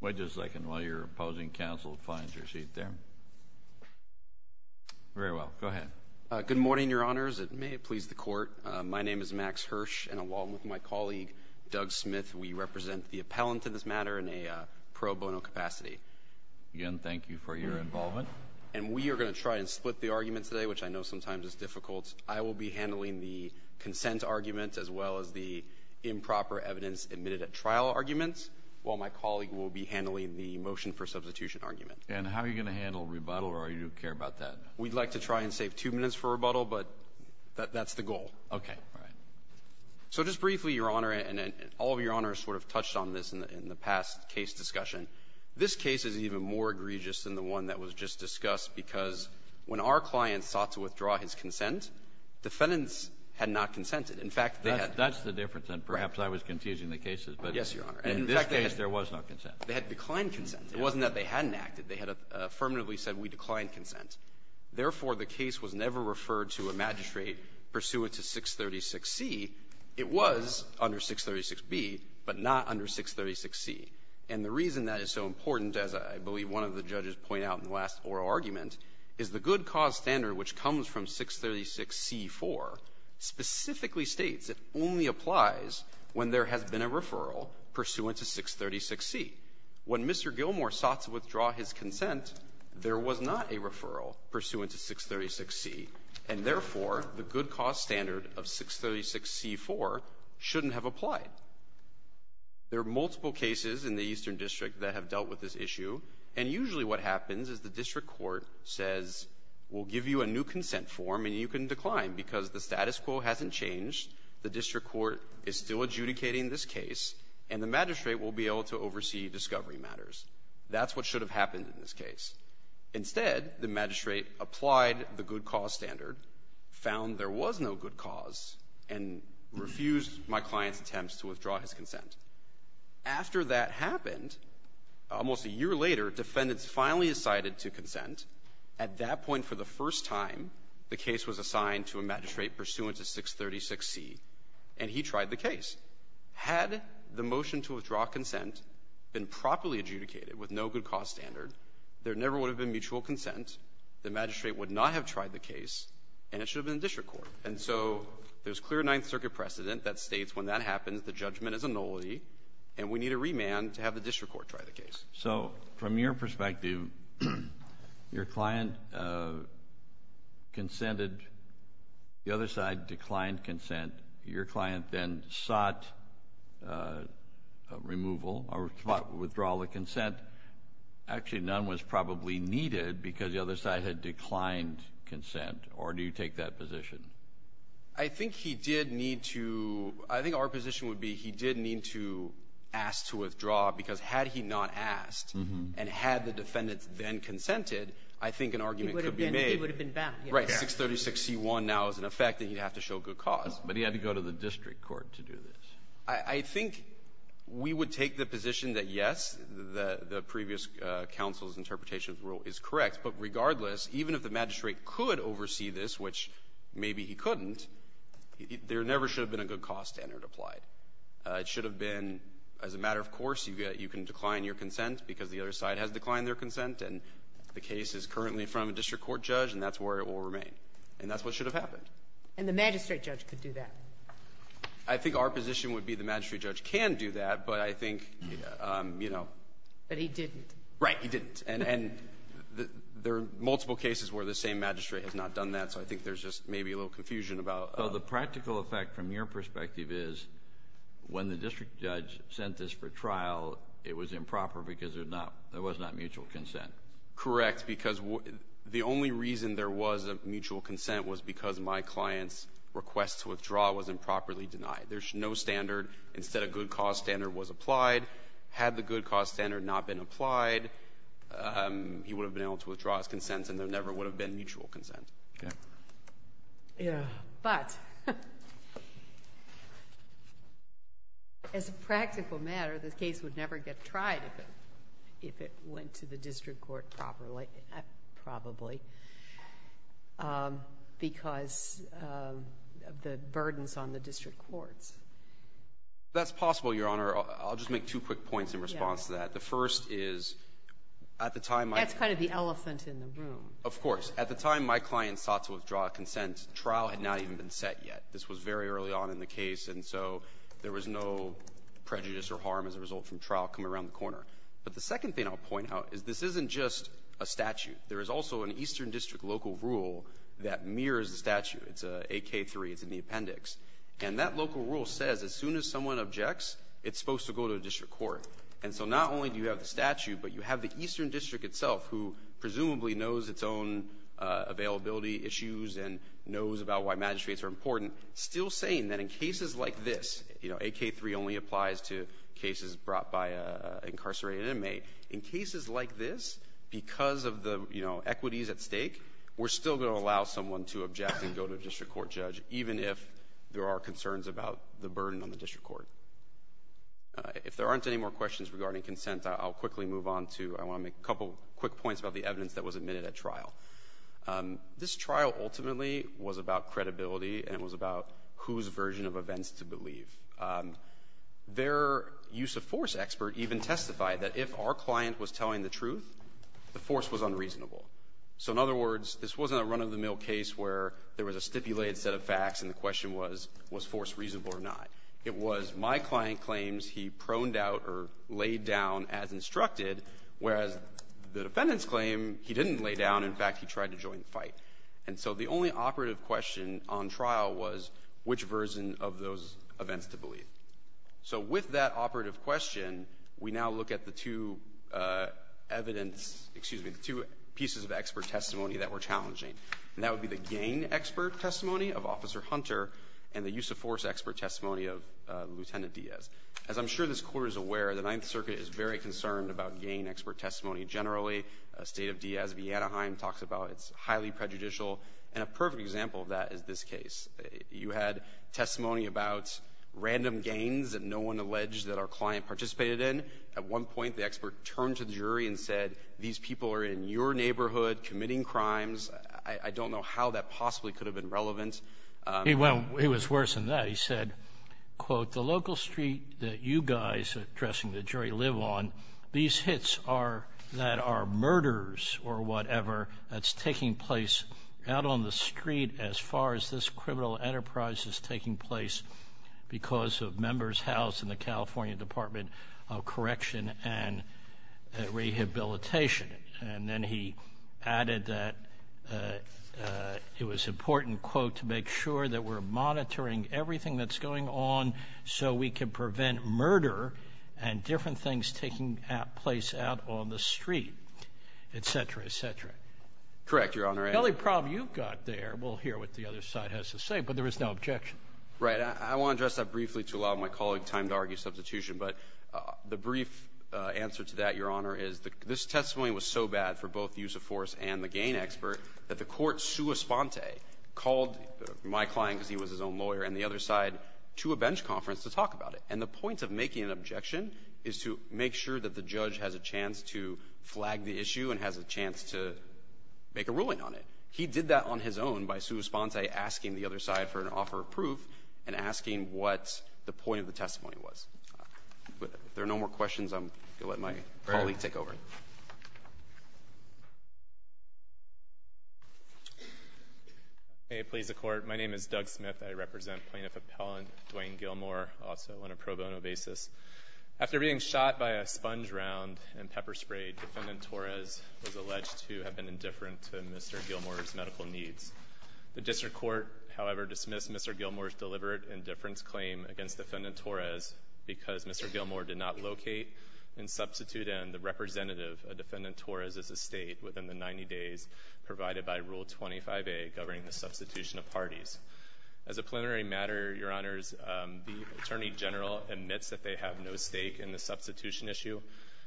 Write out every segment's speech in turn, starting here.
Wait just a second while your opposing counsel finds your seat there. Very well. Go ahead. Good morning, Your Honors. It may please the Court. My name is Max Hirsch, and along with my colleague, Doug Smith, we represent the appellant in this matter in a pro bono capacity. Again, thank you for your involvement. And we are going to try and split the argument today, which I know sometimes is difficult. I will be handling the consent argument as well as the improper evidence admitted at trial argument, while my colleague will be handling the motion for substitution argument. And how are you going to handle rebuttal, or do you care about that? We'd like to try and save two minutes for rebuttal, but that's the goal. Okay. All right. So just briefly, Your Honor, and all of Your Honors sort of touched on this in the past case discussion, this case is even more egregious than the one that was just discussed because when our client sought to withdraw his consent, defendants had not consented. In fact, they had not. That's the difference. And perhaps I was confusing the cases, but in this case there was no consent. They had declined consent. It wasn't that they hadn't acted. They had affirmatively said, we decline consent. Therefore, the case was never referred to a magistrate pursuant to 636C. It was under 636B, but not under 636C. And the reason that is so important, as I believe one of the judges pointed out in the last oral argument, is the good cause standard, which comes from 636C-4, specifically states it only applies when there has been a referral pursuant to 636C. When Mr. Gilmour sought to withdraw his consent, there was not a referral pursuant to 636C. And therefore, the good cause standard of 636C-4 shouldn't have applied. There are multiple cases in the Eastern District that have dealt with this issue, and usually what happens is the district court says, we'll give you a new consent form and you can decline because the status quo hasn't changed, the district court is still adjudicating this case, and the magistrate will be able to oversee discovery matters. That's what should have happened in this case. Instead, the magistrate applied the good cause standard, found there was no good cause, and refused my client's attempts to withdraw his consent. After that happened, almost a year later, defendants finally decided to consent. At that point, for the first time, the case was assigned to a magistrate pursuant to 636C, and he tried the case. Had the motion to withdraw consent been properly adjudicated with no good cause standard, there never would have been mutual consent, the magistrate would not have tried the case, and it should have been the district court. And so there's clear Ninth Circuit precedent that states when that happens, the judgment is annulled, and we need a remand to have the district court try the case. Kennedy. So from your perspective, your client consented, the other side declined consent. Your client then sought removal or sought withdrawal of consent. Actually, none was probably needed because the other side had declined consent, or do you take that position? I think he did need to – I think our position would be he did need to ask to withdraw because had he not asked and had the defendants then consented, I think an argument could be made. He would have been – he would have been back. Right. 636C1 now is in effect, and he'd have to show good cause. But he had to go to the district court to do this. I think we would take the position that, yes, the previous counsel's interpretation of the rule is correct, but regardless, even if the magistrate could oversee this, which maybe he couldn't, there never should have been a good cause standard applied. It should have been, as a matter of course, you can decline your consent because the other side has declined their consent, and the case is currently in front of a district court judge, and that's where it will remain. And that's what should have happened. And the magistrate judge could do that. I think our position would be the magistrate judge can do that, but I think, you know – But he didn't. Right. He didn't. And there are multiple cases where the same magistrate has not done that, so I think there's just maybe a little confusion about – So the practical effect from your perspective is when the district judge sent this for trial, it was improper because there was not mutual consent. Correct. Because the only reason there was a mutual consent was because my client's request to withdraw was improperly denied. There's no standard. Instead, a good cause standard was applied. Had the good cause standard not been applied, he would have been able to withdraw his consent, and there never would have been mutual consent. Okay. But as a practical matter, the case would never get tried if it went to the district court properly, probably, because of the burdens on the district courts. That's possible, Your Honor. I'll just make two quick points in response to that. The first is, at the time my – That's kind of the elephant in the room. Of course. At the time my client sought to withdraw a consent, trial had not even been set yet. This was very early on in the case, and so there was no prejudice or harm as a result from trial coming around the corner. But the second thing I'll say is, it's not just a statute. There is also an Eastern District local rule that mirrors the statute. It's AK-3. It's in the appendix. And that local rule says as soon as someone objects, it's supposed to go to a district court. And so not only do you have the statute, but you have the Eastern District itself, who presumably knows its own availability issues and knows about why magistrates are important, still saying that in cases like this, you know, AK-3 only applies to cases brought by an incarcerated inmate. In cases like this, because of the, you know, equities at stake, we're still going to allow someone to object and go to a district court judge, even if there are concerns about the burden on the district court. If there aren't any more questions regarding consent, I'll quickly move on to – I want to make a couple quick points about the evidence that was admitted at trial. This trial ultimately was about credibility and it was about whose version of events to believe. Their use-of-force expert even testified that if our client was telling the truth, the force was unreasonable. So in other words, this wasn't a run-of-the-mill case where there was a stipulated set of facts and the question was, was force reasonable or not. It was my client claims he proned out or laid down as instructed, whereas the defendant's claim, he didn't lay down. In fact, he tried to join the fight. And so the only operative question on trial was which version of those events to believe. So with that operative question, we now look at the two evidence – excuse me, the two pieces of expert testimony that were challenging. And that would be the gain expert testimony of Officer Hunter and the use-of-force expert testimony of Lieutenant Diaz. As I'm sure this Court is aware, the Ninth Circuit is very concerned about gain expert testimony generally. State of Diaz v. Anaheim talks about it's highly prejudicial. And a perfect example of that is this case. You had testimony about random gains that no one alleged that our client participated in. At one point, the expert turned to the jury and said, these people are in your neighborhood committing crimes. I don't know how that possibly could have been relevant. He went – it was worse than that. He said, quote, the local street that you guys addressing the jury live on, these hits are – that are murders or whatever that's taking place out on the street as far as this criminal enterprise is taking place because of members housed in the California Department of Correction and Rehabilitation. And then he added that it was important, quote, to make sure that we're monitoring everything that's going on so we can prevent murder and different things taking place out on the street, et cetera, et cetera. Correct, Your Honor. The only problem you've got there, we'll hear what the other side has to say, but there is no objection. Right. I want to address that briefly to allow my colleague time to argue substitution. But the brief answer to that, Your Honor, is this testimony was so bad for both the use of force and the gain expert that the Court sua sponte called my client because he was his own lawyer and the other side to a bench conference to talk about it. And the point of making an objection is to make sure that the judge has a chance to flag the issue and has a chance to make a ruling on it. He did that on his own by sua sponte asking the other side for an offer of proof and asking what the point of the testimony was. If there are no more questions, I'm going to let my colleague take over. May it please the Court. My name is Doug Smith. I represent Plaintiff Appellant Dwayne Gilmore, also on a pro bono basis. After being shot by a sponge round and pepper sprayed, Defendant Torres was alleged to have been indifferent to Mr. Gilmore's medical needs. The district court, however, dismissed Mr. Gilmore's deliberate indifference claim against Defendant Torres because Mr. Gilmore did not locate and substitute in the representative of Defendant Torres' estate within the 90 days provided by Rule 25a governing the substitution of parties. As a preliminary matter, Your Honors, the Attorney General admits that they have no stake in the substitution issue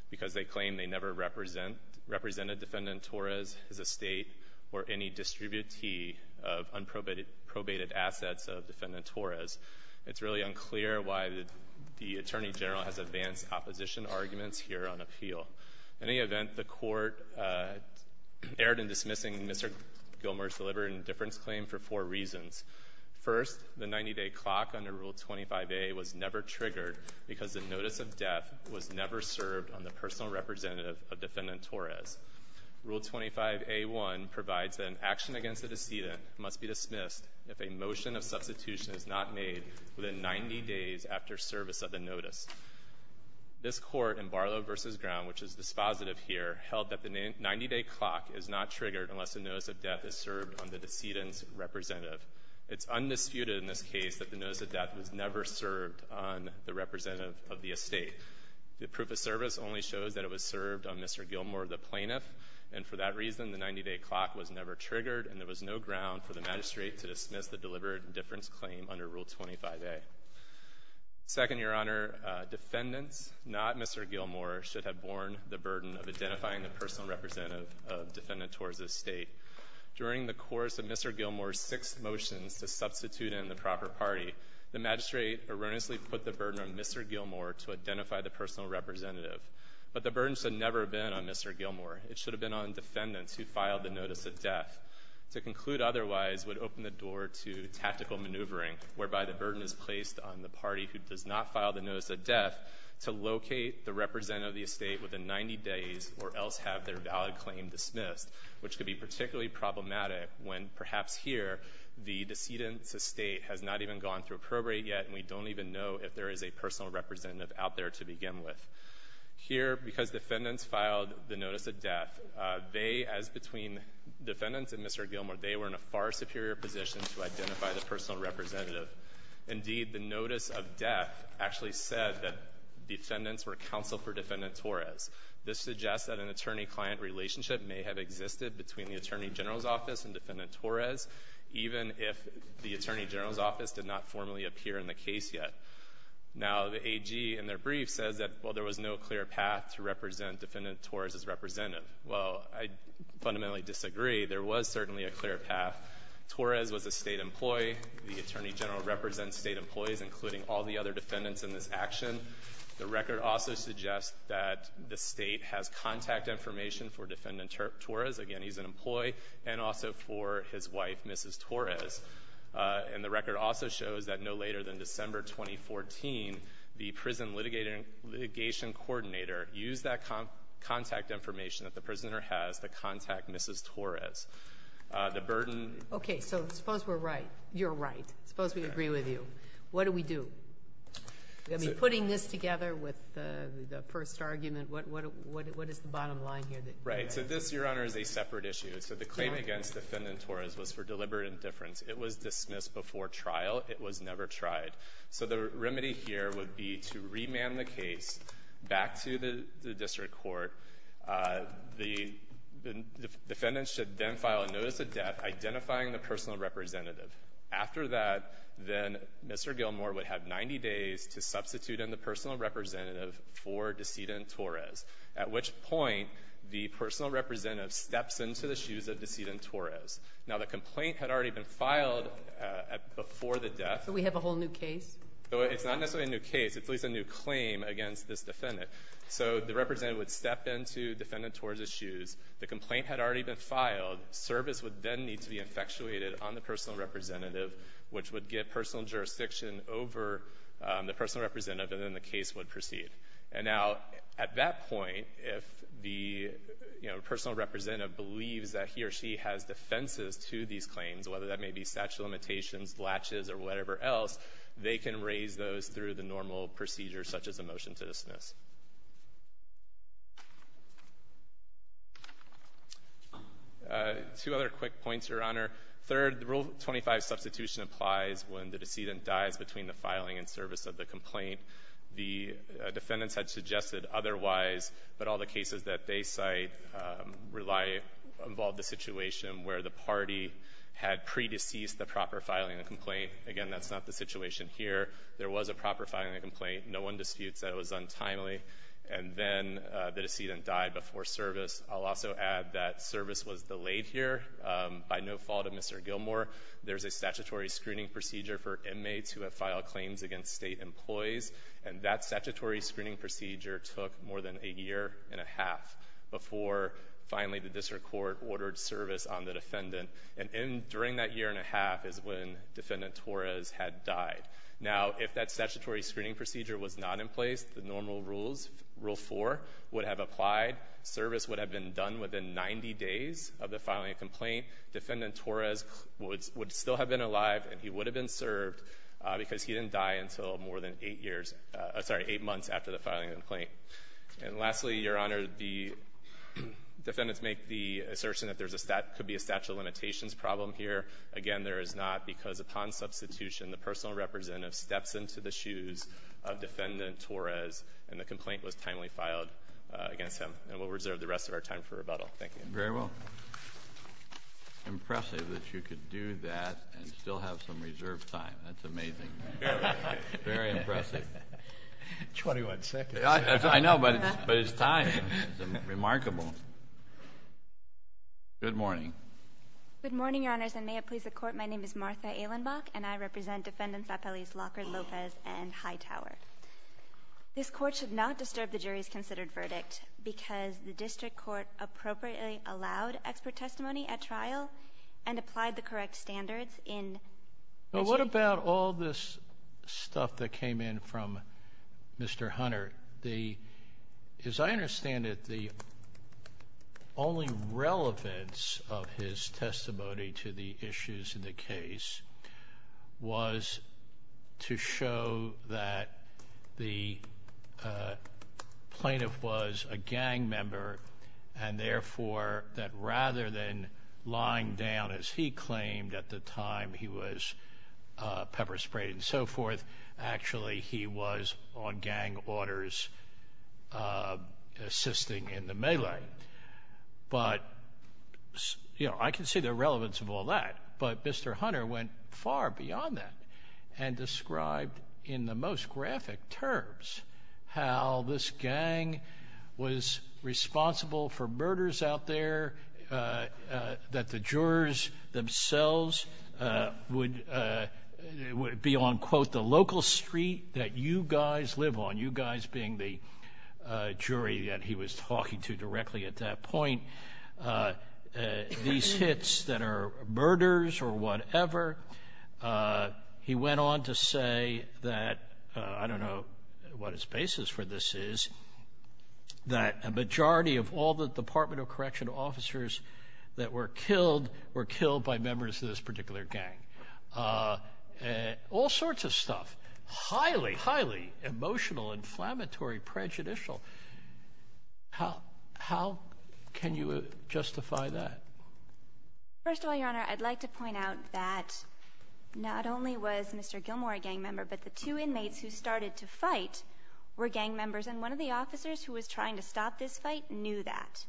because they claim they never represented Defendant Torres' estate or any distributee of unprobated assets of Defendant Torres. It's really unclear why the Attorney General has advanced opposition arguments here on appeal. In any event, the Court erred in dismissing Mr. Gilmore's deliberate indifference claim for four reasons. First, the 90-day clock under Rule 25a was never triggered because the notice of death was never served on the personal representative of Defendant Torres. Rule 25a-1 provides that an action against a decedent must be dismissed if a motion of substitution is not made within 90 days after service of the notice. This Court in Barlow v. Ground, which is dispositive here, held that the 90-day clock is not triggered unless the notice of death is served on the decedent's representative. It's undisputed in this case that the notice of death was never served on the representative of the estate. The proof of service only shows that it was served on Mr. Gilmore, the plaintiff, and for that reason the 90-day clock was never triggered and there was no ground for the magistrate to dismiss the deliberate indifference claim under Rule 25a. Second, Your Honor, defendants, not Mr. Gilmore, should have borne the burden of identifying the personal representative of Defendant Torres' estate. During the course of Mr. Gilmore's six motions to substitute him in the proper party, the magistrate erroneously put the burden on Mr. Gilmore to identify the personal representative. But the burden should have never been on Mr. Gilmore. It should have been on defendants who filed the notice of death. To conclude otherwise would open the door to tactical maneuvering whereby the burden is placed on the party who does not file the notice of death to locate the representative of the estate within 90 days or else have their valid claim dismissed, which could be particularly problematic when, perhaps here, the decedent's estate has not even gone through appropriate yet and we don't even know if there is a personal representative out there to begin with. Here, because defendants filed the notice of death, they, as between defendants and Mr. Gilmore, they were in a far superior position to identify the personal representative. Indeed, the notice of death actually said that defendants were counsel for Defendant Torres. This suggests that an attorney-client relationship may have existed between the attorney general's office and Defendant Torres, even if the attorney general's office did not formally appear in the case yet. Now, the AG in their brief says that, well, there was no clear path to represent Defendant Torres as representative. Well, I fundamentally disagree. There was certainly a clear path. Torres was a State employee. The attorney general represents State employees, including all the other defendants in this action. The record also suggests that the State has contact information for Defendant Torres. Again, he's an employee, and also for his wife, Mrs. Torres. And the record also shows that no later than December 2014, the prison litigation coordinator used that contact information that the prisoner has to contact Mrs. Torres. The burden --" Sotomayor, you're right. I suppose we agree with you. What do we do? I mean, putting this together with the first argument, what is the bottom line here that you have? Right. So this, Your Honor, is a separate issue. So the claim against Defendant Torres was for deliberate indifference. It was dismissed before trial. It was never tried. So the remedy here would be to remand the case back to the district court. The defendant should then file a notice of death identifying the personal representative after that. Then Mr. Gilmour would have 90 days to substitute in the personal representative for Decedent Torres, at which point the personal representative steps into the shoes of Decedent Torres. Now, the complaint had already been filed before the death. So we have a whole new case? It's not necessarily a new case. It's at least a new claim against this defendant. So the representative would step into Defendant Torres' shoes. The complaint had already been filed. Service would then need to be infatuated on the personal representative, which would get personal jurisdiction over the personal representative, and then the case would proceed. And now, at that point, if the, you know, personal representative believes that he or she has defenses to these claims, whether that may be statute of limitations, latches, or whatever else, they can raise those through the normal procedure such as a motion to dismiss. Two other quick points, Your Honor. Third, Rule 25 substitution applies when the decedent dies between the filing and service of the complaint. The defendants had suggested otherwise, but all the cases that they cite rely to involve the situation where the party had pre-deceased the proper filing of the complaint. Again, that's not the situation here. There was a proper filing of the complaint. No one disputes that it was untimely. And then the decedent died before service. I'll also add that service was delayed here by no fault of Mr. Gilmour. There's a statutory screening procedure for inmates who have filed claims against state employees, and that statutory screening procedure took more than a year and a half before finally the district court ordered service on the defendant. And during that year and a half is when Defendant Torres had died. Now, if that statutory screening procedure was not in place, the normal rules, Rule 4, would have applied. Service would have been done within 90 days of the filing of the complaint. Defendant Torres would still have been alive and he would have been served because he didn't die until more than eight years – sorry, eight months after the filing of the complaint. And lastly, Your Honor, the defendants make the assertion that there's a – could be a statute of limitations problem here. Again, there is not because upon substitution, the personal representative steps into the shoes of Defendant Torres and the complaint was timely filed against him. And we'll reserve the rest of our time for rebuttal. Thank you. Very well. Impressive that you could do that and still have some reserved time. That's amazing. Very impressive. Twenty-one seconds. I know, but it's time. It's remarkable. Good morning. Good morning, Your Honors. And may it please the Court, my name is Martha Ehlenbach, and I represent Defendants Appellees Lockhart, Lopez, and Hightower. This Court should not disturb the jury's considered verdict because the district court appropriately allowed expert testimony at trial and applied the correct standards in the jury. But what about all this stuff that came in from Mr. Hunter? As I understand it, the only relevance of his testimony to the issues in the case was to show that the plaintiff was a gang member and, therefore, that rather than lying down as he claimed at the time he was pepper sprayed and so forth, actually he was on gang orders assisting in the melee. But, you know, I can see the relevance of all that, but Mr. Hunter went far beyond that and described in the most graphic terms how this gang was responsible for murders out there, that the jurors themselves would be on, quote, the local street, that you guys live on, you guys being the jury that he was talking to directly at that point, these hits that are murders or whatever. He went on to say that, I don't know what his basis for this is, that a majority of all the Department of Correctional officers that were killed were killed by members of this particular gang. All sorts of stuff, highly, highly emotional, inflammatory, prejudicial. How can you justify that? First of all, Your Honor, I'd like to point out that not only was Mr. Gilmour a gang member, but the two inmates who started to fight were gang members, and one of the inmates who was a gang member was Mr. Hunter. And I don't think that's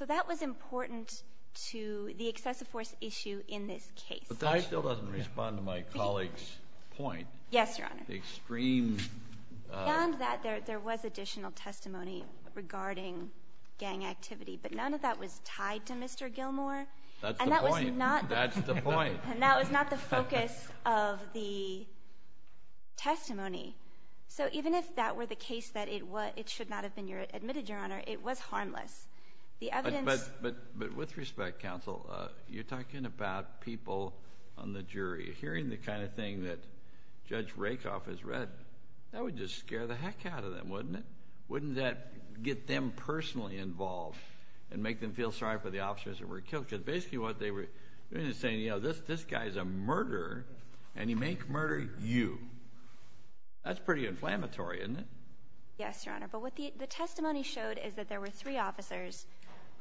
a very good way to put it. I think it's a very good way to put it, but it's not the case. But that still doesn't respond to my colleague's point. Yes, Your Honor. I mean, hearing the kind of thing that Judge Rakoff has read, that would just scare the heck out of them, wouldn't it? Wouldn't that get them personally involved and make them feel sorry for the officers that were killed? Because basically what they were doing is saying, you know, this guy's a murderer, and he made murder you. That's pretty inflammatory, isn't it? Yes, Your Honor. But what the testimony showed is that there were three officers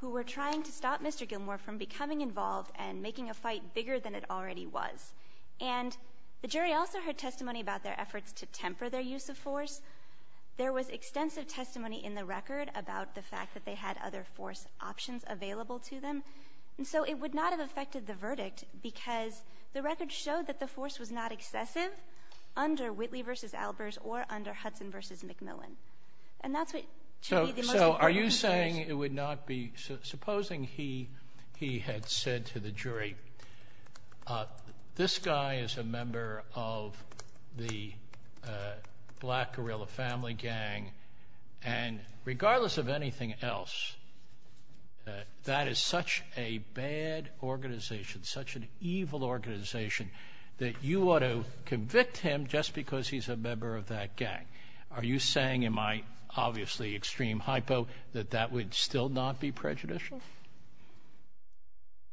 who were trying to stop Mr. Gilmour from becoming involved and making a fight bigger than it already was. And the jury also heard testimony about their efforts to temper their use of force. There was extensive testimony in the record about the fact that they had other force than Mr. Gilmour versus McMillan. And that's what to me the most important thing is. So are you saying it would not be — supposing he had said to the jury, this guy is a member of the black guerrilla family gang, and regardless of anything else, that is such a bad organization, such an evil organization, that you ought to convict him just because he's a member of that gang? Are you saying, in my obviously extreme hypo, that that would still not be prejudicial?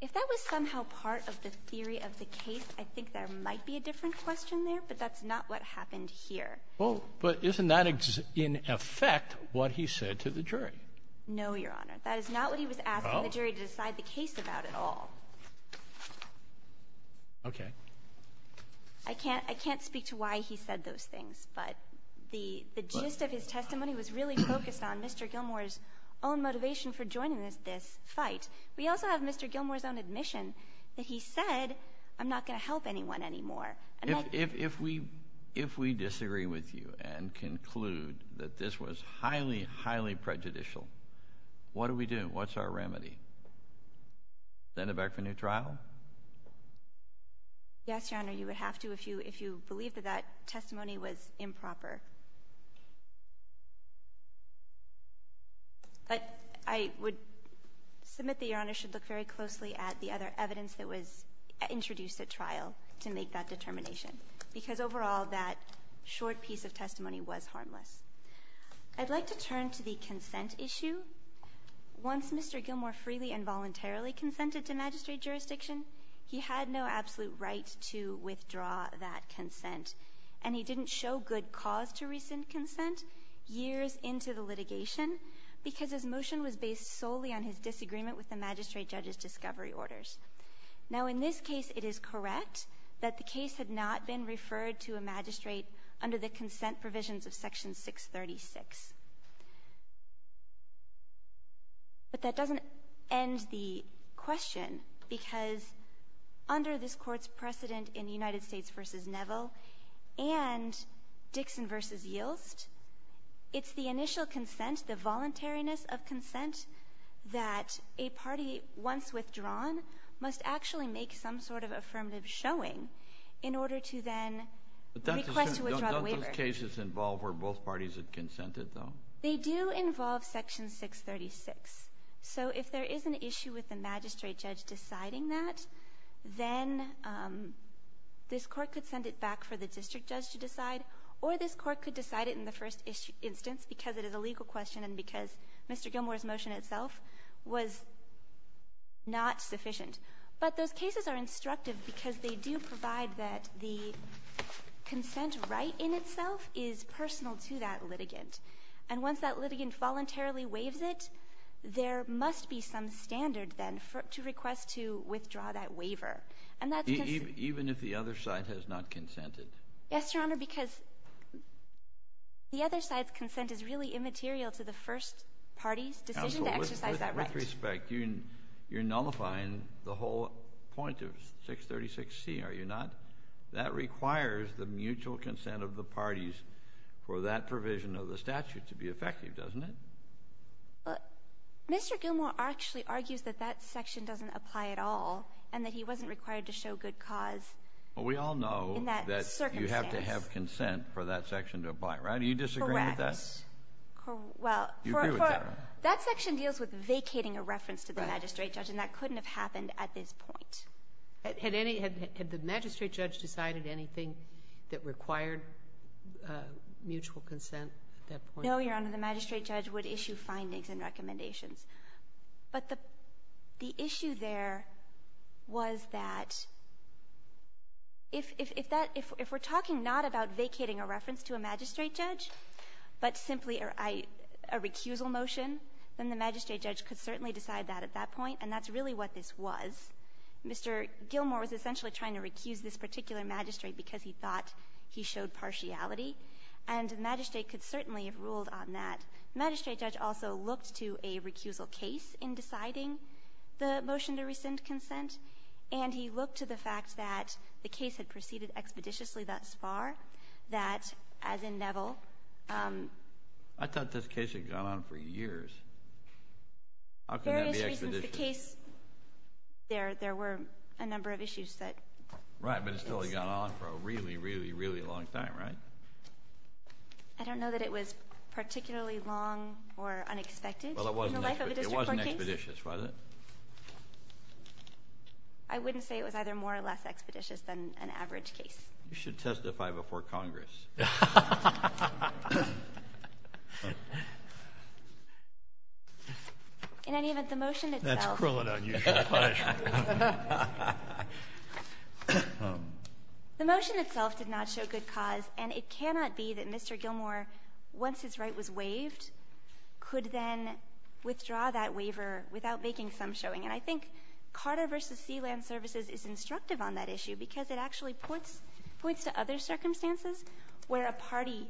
If that was somehow part of the theory of the case, I think there might be a different question there, but that's not what happened here. Well, but isn't that in effect what he said to the jury? No, Your Honor. That is not what he was asking the jury to decide the case about at all. Okay. I can't speak to why he said those things, but the gist of his testimony was really focused on Mr. Gilmour's own motivation for joining this fight. We also have Mr. Gilmour's own admission that he said, I'm not going to help anyone anymore. If we disagree with you and conclude that this was highly, highly prejudicial, what do we do? What's our remedy? Send him back for a new trial? Yes, Your Honor. You would have to if you believe that that testimony was improper. But I would submit that Your Honor should look very closely at the other evidence that was introduced at trial to make that determination, because overall that short piece of testimony was harmless. I'd like to turn to the consent issue. Once Mr. Gilmour freely and voluntarily consented to magistrate jurisdiction, he had no absolute right to withdraw that consent, and he didn't show good cause to rescind consent years into the litigation because his motion was based solely on his disagreement with the magistrate judge's discovery orders. Now, in this case, it is correct that the case had not been referred to a magistrate under the consent provisions of Section 636. But that doesn't end the question, because under this Court's precedent in United States v. Neville and Dixon v. Yilst, it's the initial consent, the voluntariness of consent, that a party, once withdrawn, must actually make some sort of affirmative showing in order to then request to withdraw the waiver. Kennedy. But don't those cases involve where both parties have consented, though? They do involve Section 636. So if there is an issue with the magistrate judge deciding that, then this Court could send it back for the district judge to decide, or this Court could decide it in the first instance because it is a legal question and because Mr. Gilmour's motion itself was not sufficient. But those cases are instructive because they do provide that the consent right in itself is personal to that litigant, and once that litigant voluntarily waives it, there must be some standard then to request to withdraw that waiver. And that's because the other side has not consented. Yes, Your Honor, because the other side's consent is really immaterial to the first party's decision to exercise that right. Counsel, with respect, you're nullifying the whole point of 636C, are you not? That requires the mutual consent of the parties for that provision of the statute to be effective, doesn't it? Mr. Gilmour actually argues that that section doesn't apply at all and that he wasn't required to show good cause in that circumstance. Well, we all know that you have to have consent for that section to apply, right? Do you disagree with that? Correct. You agree with that? That section deals with vacating a reference to the magistrate judge, and that couldn't have happened at this point. Had any of the magistrate judge decided anything that required mutual consent at that point? No, Your Honor. The magistrate judge would issue findings and recommendations. But the issue there was that if that – if we're talking not about vacating a reference to a magistrate judge, but simply a recusal motion, then the magistrate judge could certainly decide that at that point, and that's really what this was. Mr. Gilmour was essentially trying to recuse this particular magistrate because he thought he showed partiality, and the magistrate could certainly have ruled on that. The magistrate judge also looked to a recusal case in deciding the motion to rescind consent, and he looked to the fact that the case had proceeded expeditiously thus far, that, as in Neville – I thought this case had gone on for years. How can that be expeditious? For various reasons, the case – there were a number of issues that – Right, but it's totally gone on for a really, really, really long time, right? I don't know that it was particularly long or unexpected in the life of a district court case. Well, it wasn't expeditious, was it? I wouldn't say it was either more or less expeditious than an average case. You should testify before Congress. In any event, the motion itself – That's cruel and unusual punishment. The motion itself did not show good cause, and it cannot be that Mr. Gilmour, once his right was waived, could then withdraw that waiver without making some showing. And I think Carter v. Sea Land Services is instructive on that issue because it actually points to other circumstances where a party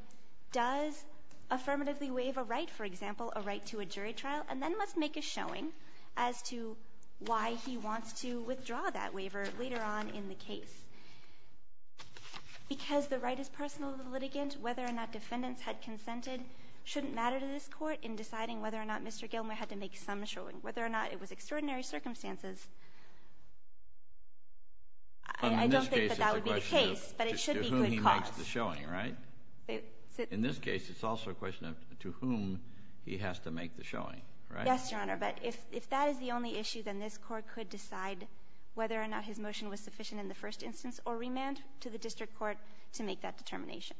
does affirmatively waive a right, for example, a right to a jury trial, and then must make a showing as to why he wants to withdraw that waiver later on in the case. Because the right is personal to the litigant, whether or not defendants had consented shouldn't matter to this Court in deciding whether or not Mr. Gilmour had to make some showing, whether or not it was extraordinary circumstances. I don't think that that would be the case, but it should be good cause. But in this case, it's a question of to whom he makes the showing, right? In this case, it's also a question of to whom he has to make the showing, right? Yes, Your Honor, but if that is the only issue, then this Court could decide whether or not his motion was sufficient in the first instance or remand to the district court to make that determination.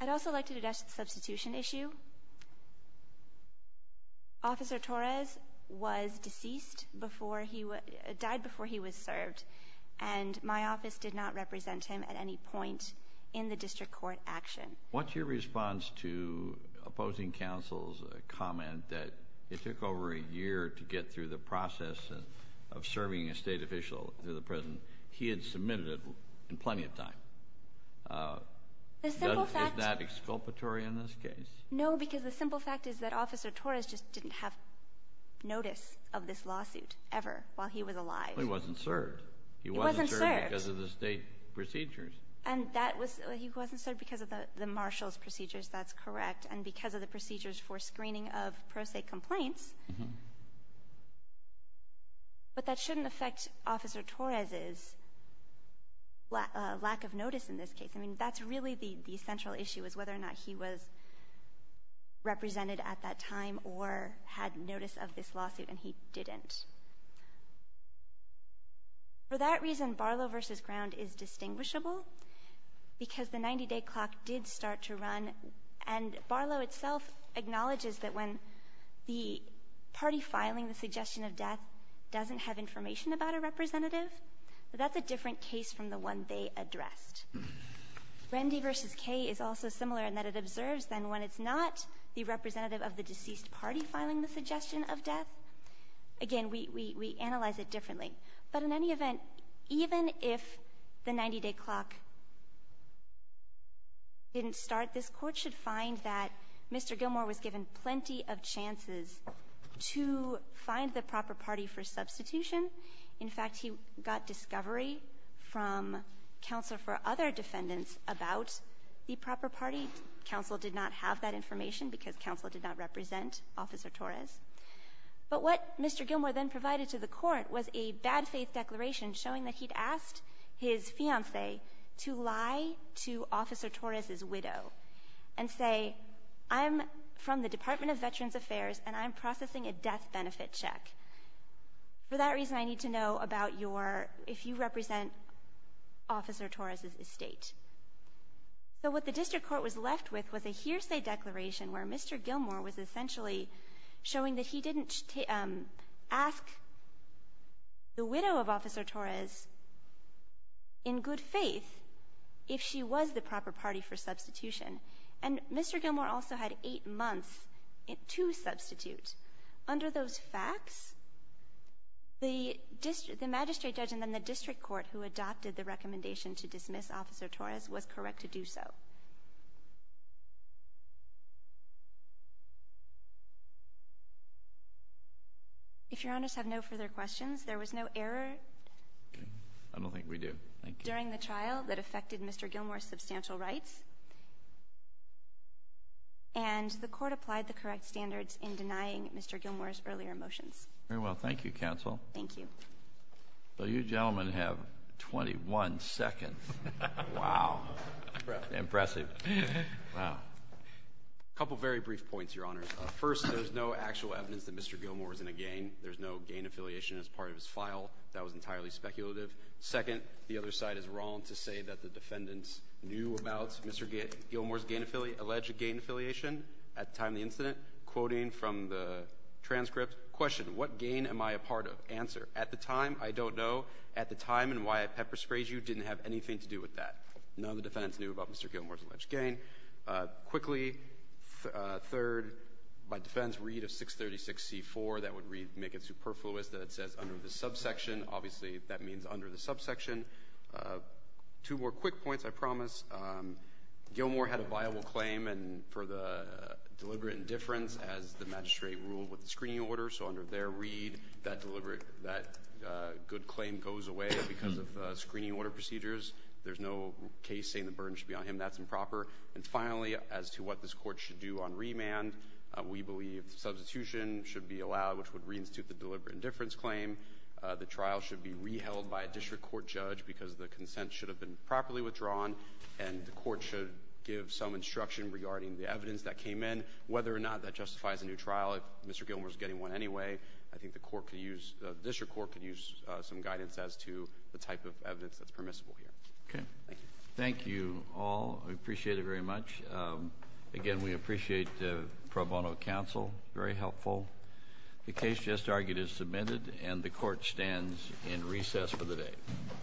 I'd also like to address the substitution issue. Officer Torres was deceased before he died, before he was served, and my office did not represent him at any point in the district court action. What's your response to opposing counsel's comment that it took over a year to get through the process of serving a state official to the president? He had submitted it in plenty of time. Is that exculpatory in this case? No, because the simple fact is that Officer Torres just didn't have notice of this lawsuit ever while he was alive. Well, he wasn't served. He wasn't served because of the state procedures. And that was he wasn't served because of the marshal's procedures, that's correct, and because of the procedures for screening of pro se complaints. But that shouldn't affect Officer Torres' lack of notice in this case. I mean, that's really the central issue is whether or not he was represented at that time or had notice of this lawsuit, and he didn't. For that reason, Barlow v. Ground is distinguishable because the 90-day clock did start to run, and Barlow itself acknowledges that when the party filing the suggestion of death doesn't have information about a representative, that that's a different case from the one they addressed. Randy v. K is also similar in that it observes then when it's not the representative of the deceased party filing the suggestion of death. Again, we analyze it differently. But in any event, even if the 90-day clock didn't start, this Court should find that Mr. Gilmour was given plenty of chances to find the proper party for substitution. In fact, he got discovery from counsel for other defendants about the proper party. Counsel did not have that information because counsel did not represent Officer Torres. But what Mr. Gilmour then provided to the Court was a bad faith declaration showing that he'd asked his fiancée to lie to Officer Torres' widow and say, I'm from the Department of Veterans Affairs, and I'm processing a death benefit check. For that reason, I need to know about your, if you represent Officer Torres' estate. So what the District Court was left with was a hearsay declaration where Mr. Gilmour said that he didn't ask the widow of Officer Torres in good faith if she was the proper party for substitution. And Mr. Gilmour also had eight months to substitute. Under those facts, the magistrate judge and then the District Court who adopted the recommendation to dismiss Officer Torres was correct to do so. If Your Honors have no further questions, there was no error during the trial that affected Mr. Gilmour's substantial rights, and the Court applied the correct standards in denying Mr. Gilmour's earlier motions. Very well. Thank you, counsel. Thank you. So you gentlemen have 21 seconds. Wow. Impressive. Wow. A couple very brief points, Your Honors. First, there's no actual evidence that Mr. Gilmour is in a gain. There's no gain affiliation as part of his file. That was entirely speculative. Second, the other side is wrong to say that the defendants knew about Mr. Gilmour's alleged gain affiliation at the time of the incident. Quoting from the transcript, question, what gain am I a part of? Answer, at the time, I don't know. At the time and why I pepper-sprayed you didn't have anything to do with that. None of the defendants knew about Mr. Gilmour's alleged gain. Quickly, third, by defendants' read of 636C4, that would make it superfluous that it says under the subsection. Obviously, that means under the subsection. Two more quick points, I promise. Gilmour had a viable claim for the deliberate indifference as the magistrate ruled with the screening order. So under their read, that good claim goes away because of screening order procedures. There's no case saying the burden should be on him. That's improper. And finally, as to what this court should do on remand, we believe substitution should be allowed, which would reinstitute the deliberate indifference claim. The trial should be re-held by a district court judge because the consent should have been properly withdrawn and the court should give some instruction regarding the evidence that came in. Whether or not that justifies a new trial, if Mr. Gilmour is getting one anyway, I think the court could use, the district court could use some guidance as to the type of evidence that's permissible here. Okay. Thank you. Thank you all. I appreciate it very much. Again, we appreciate the pro bono counsel. Very helpful. The case just argued is submitted and the court stands in recess for the day. Thank you.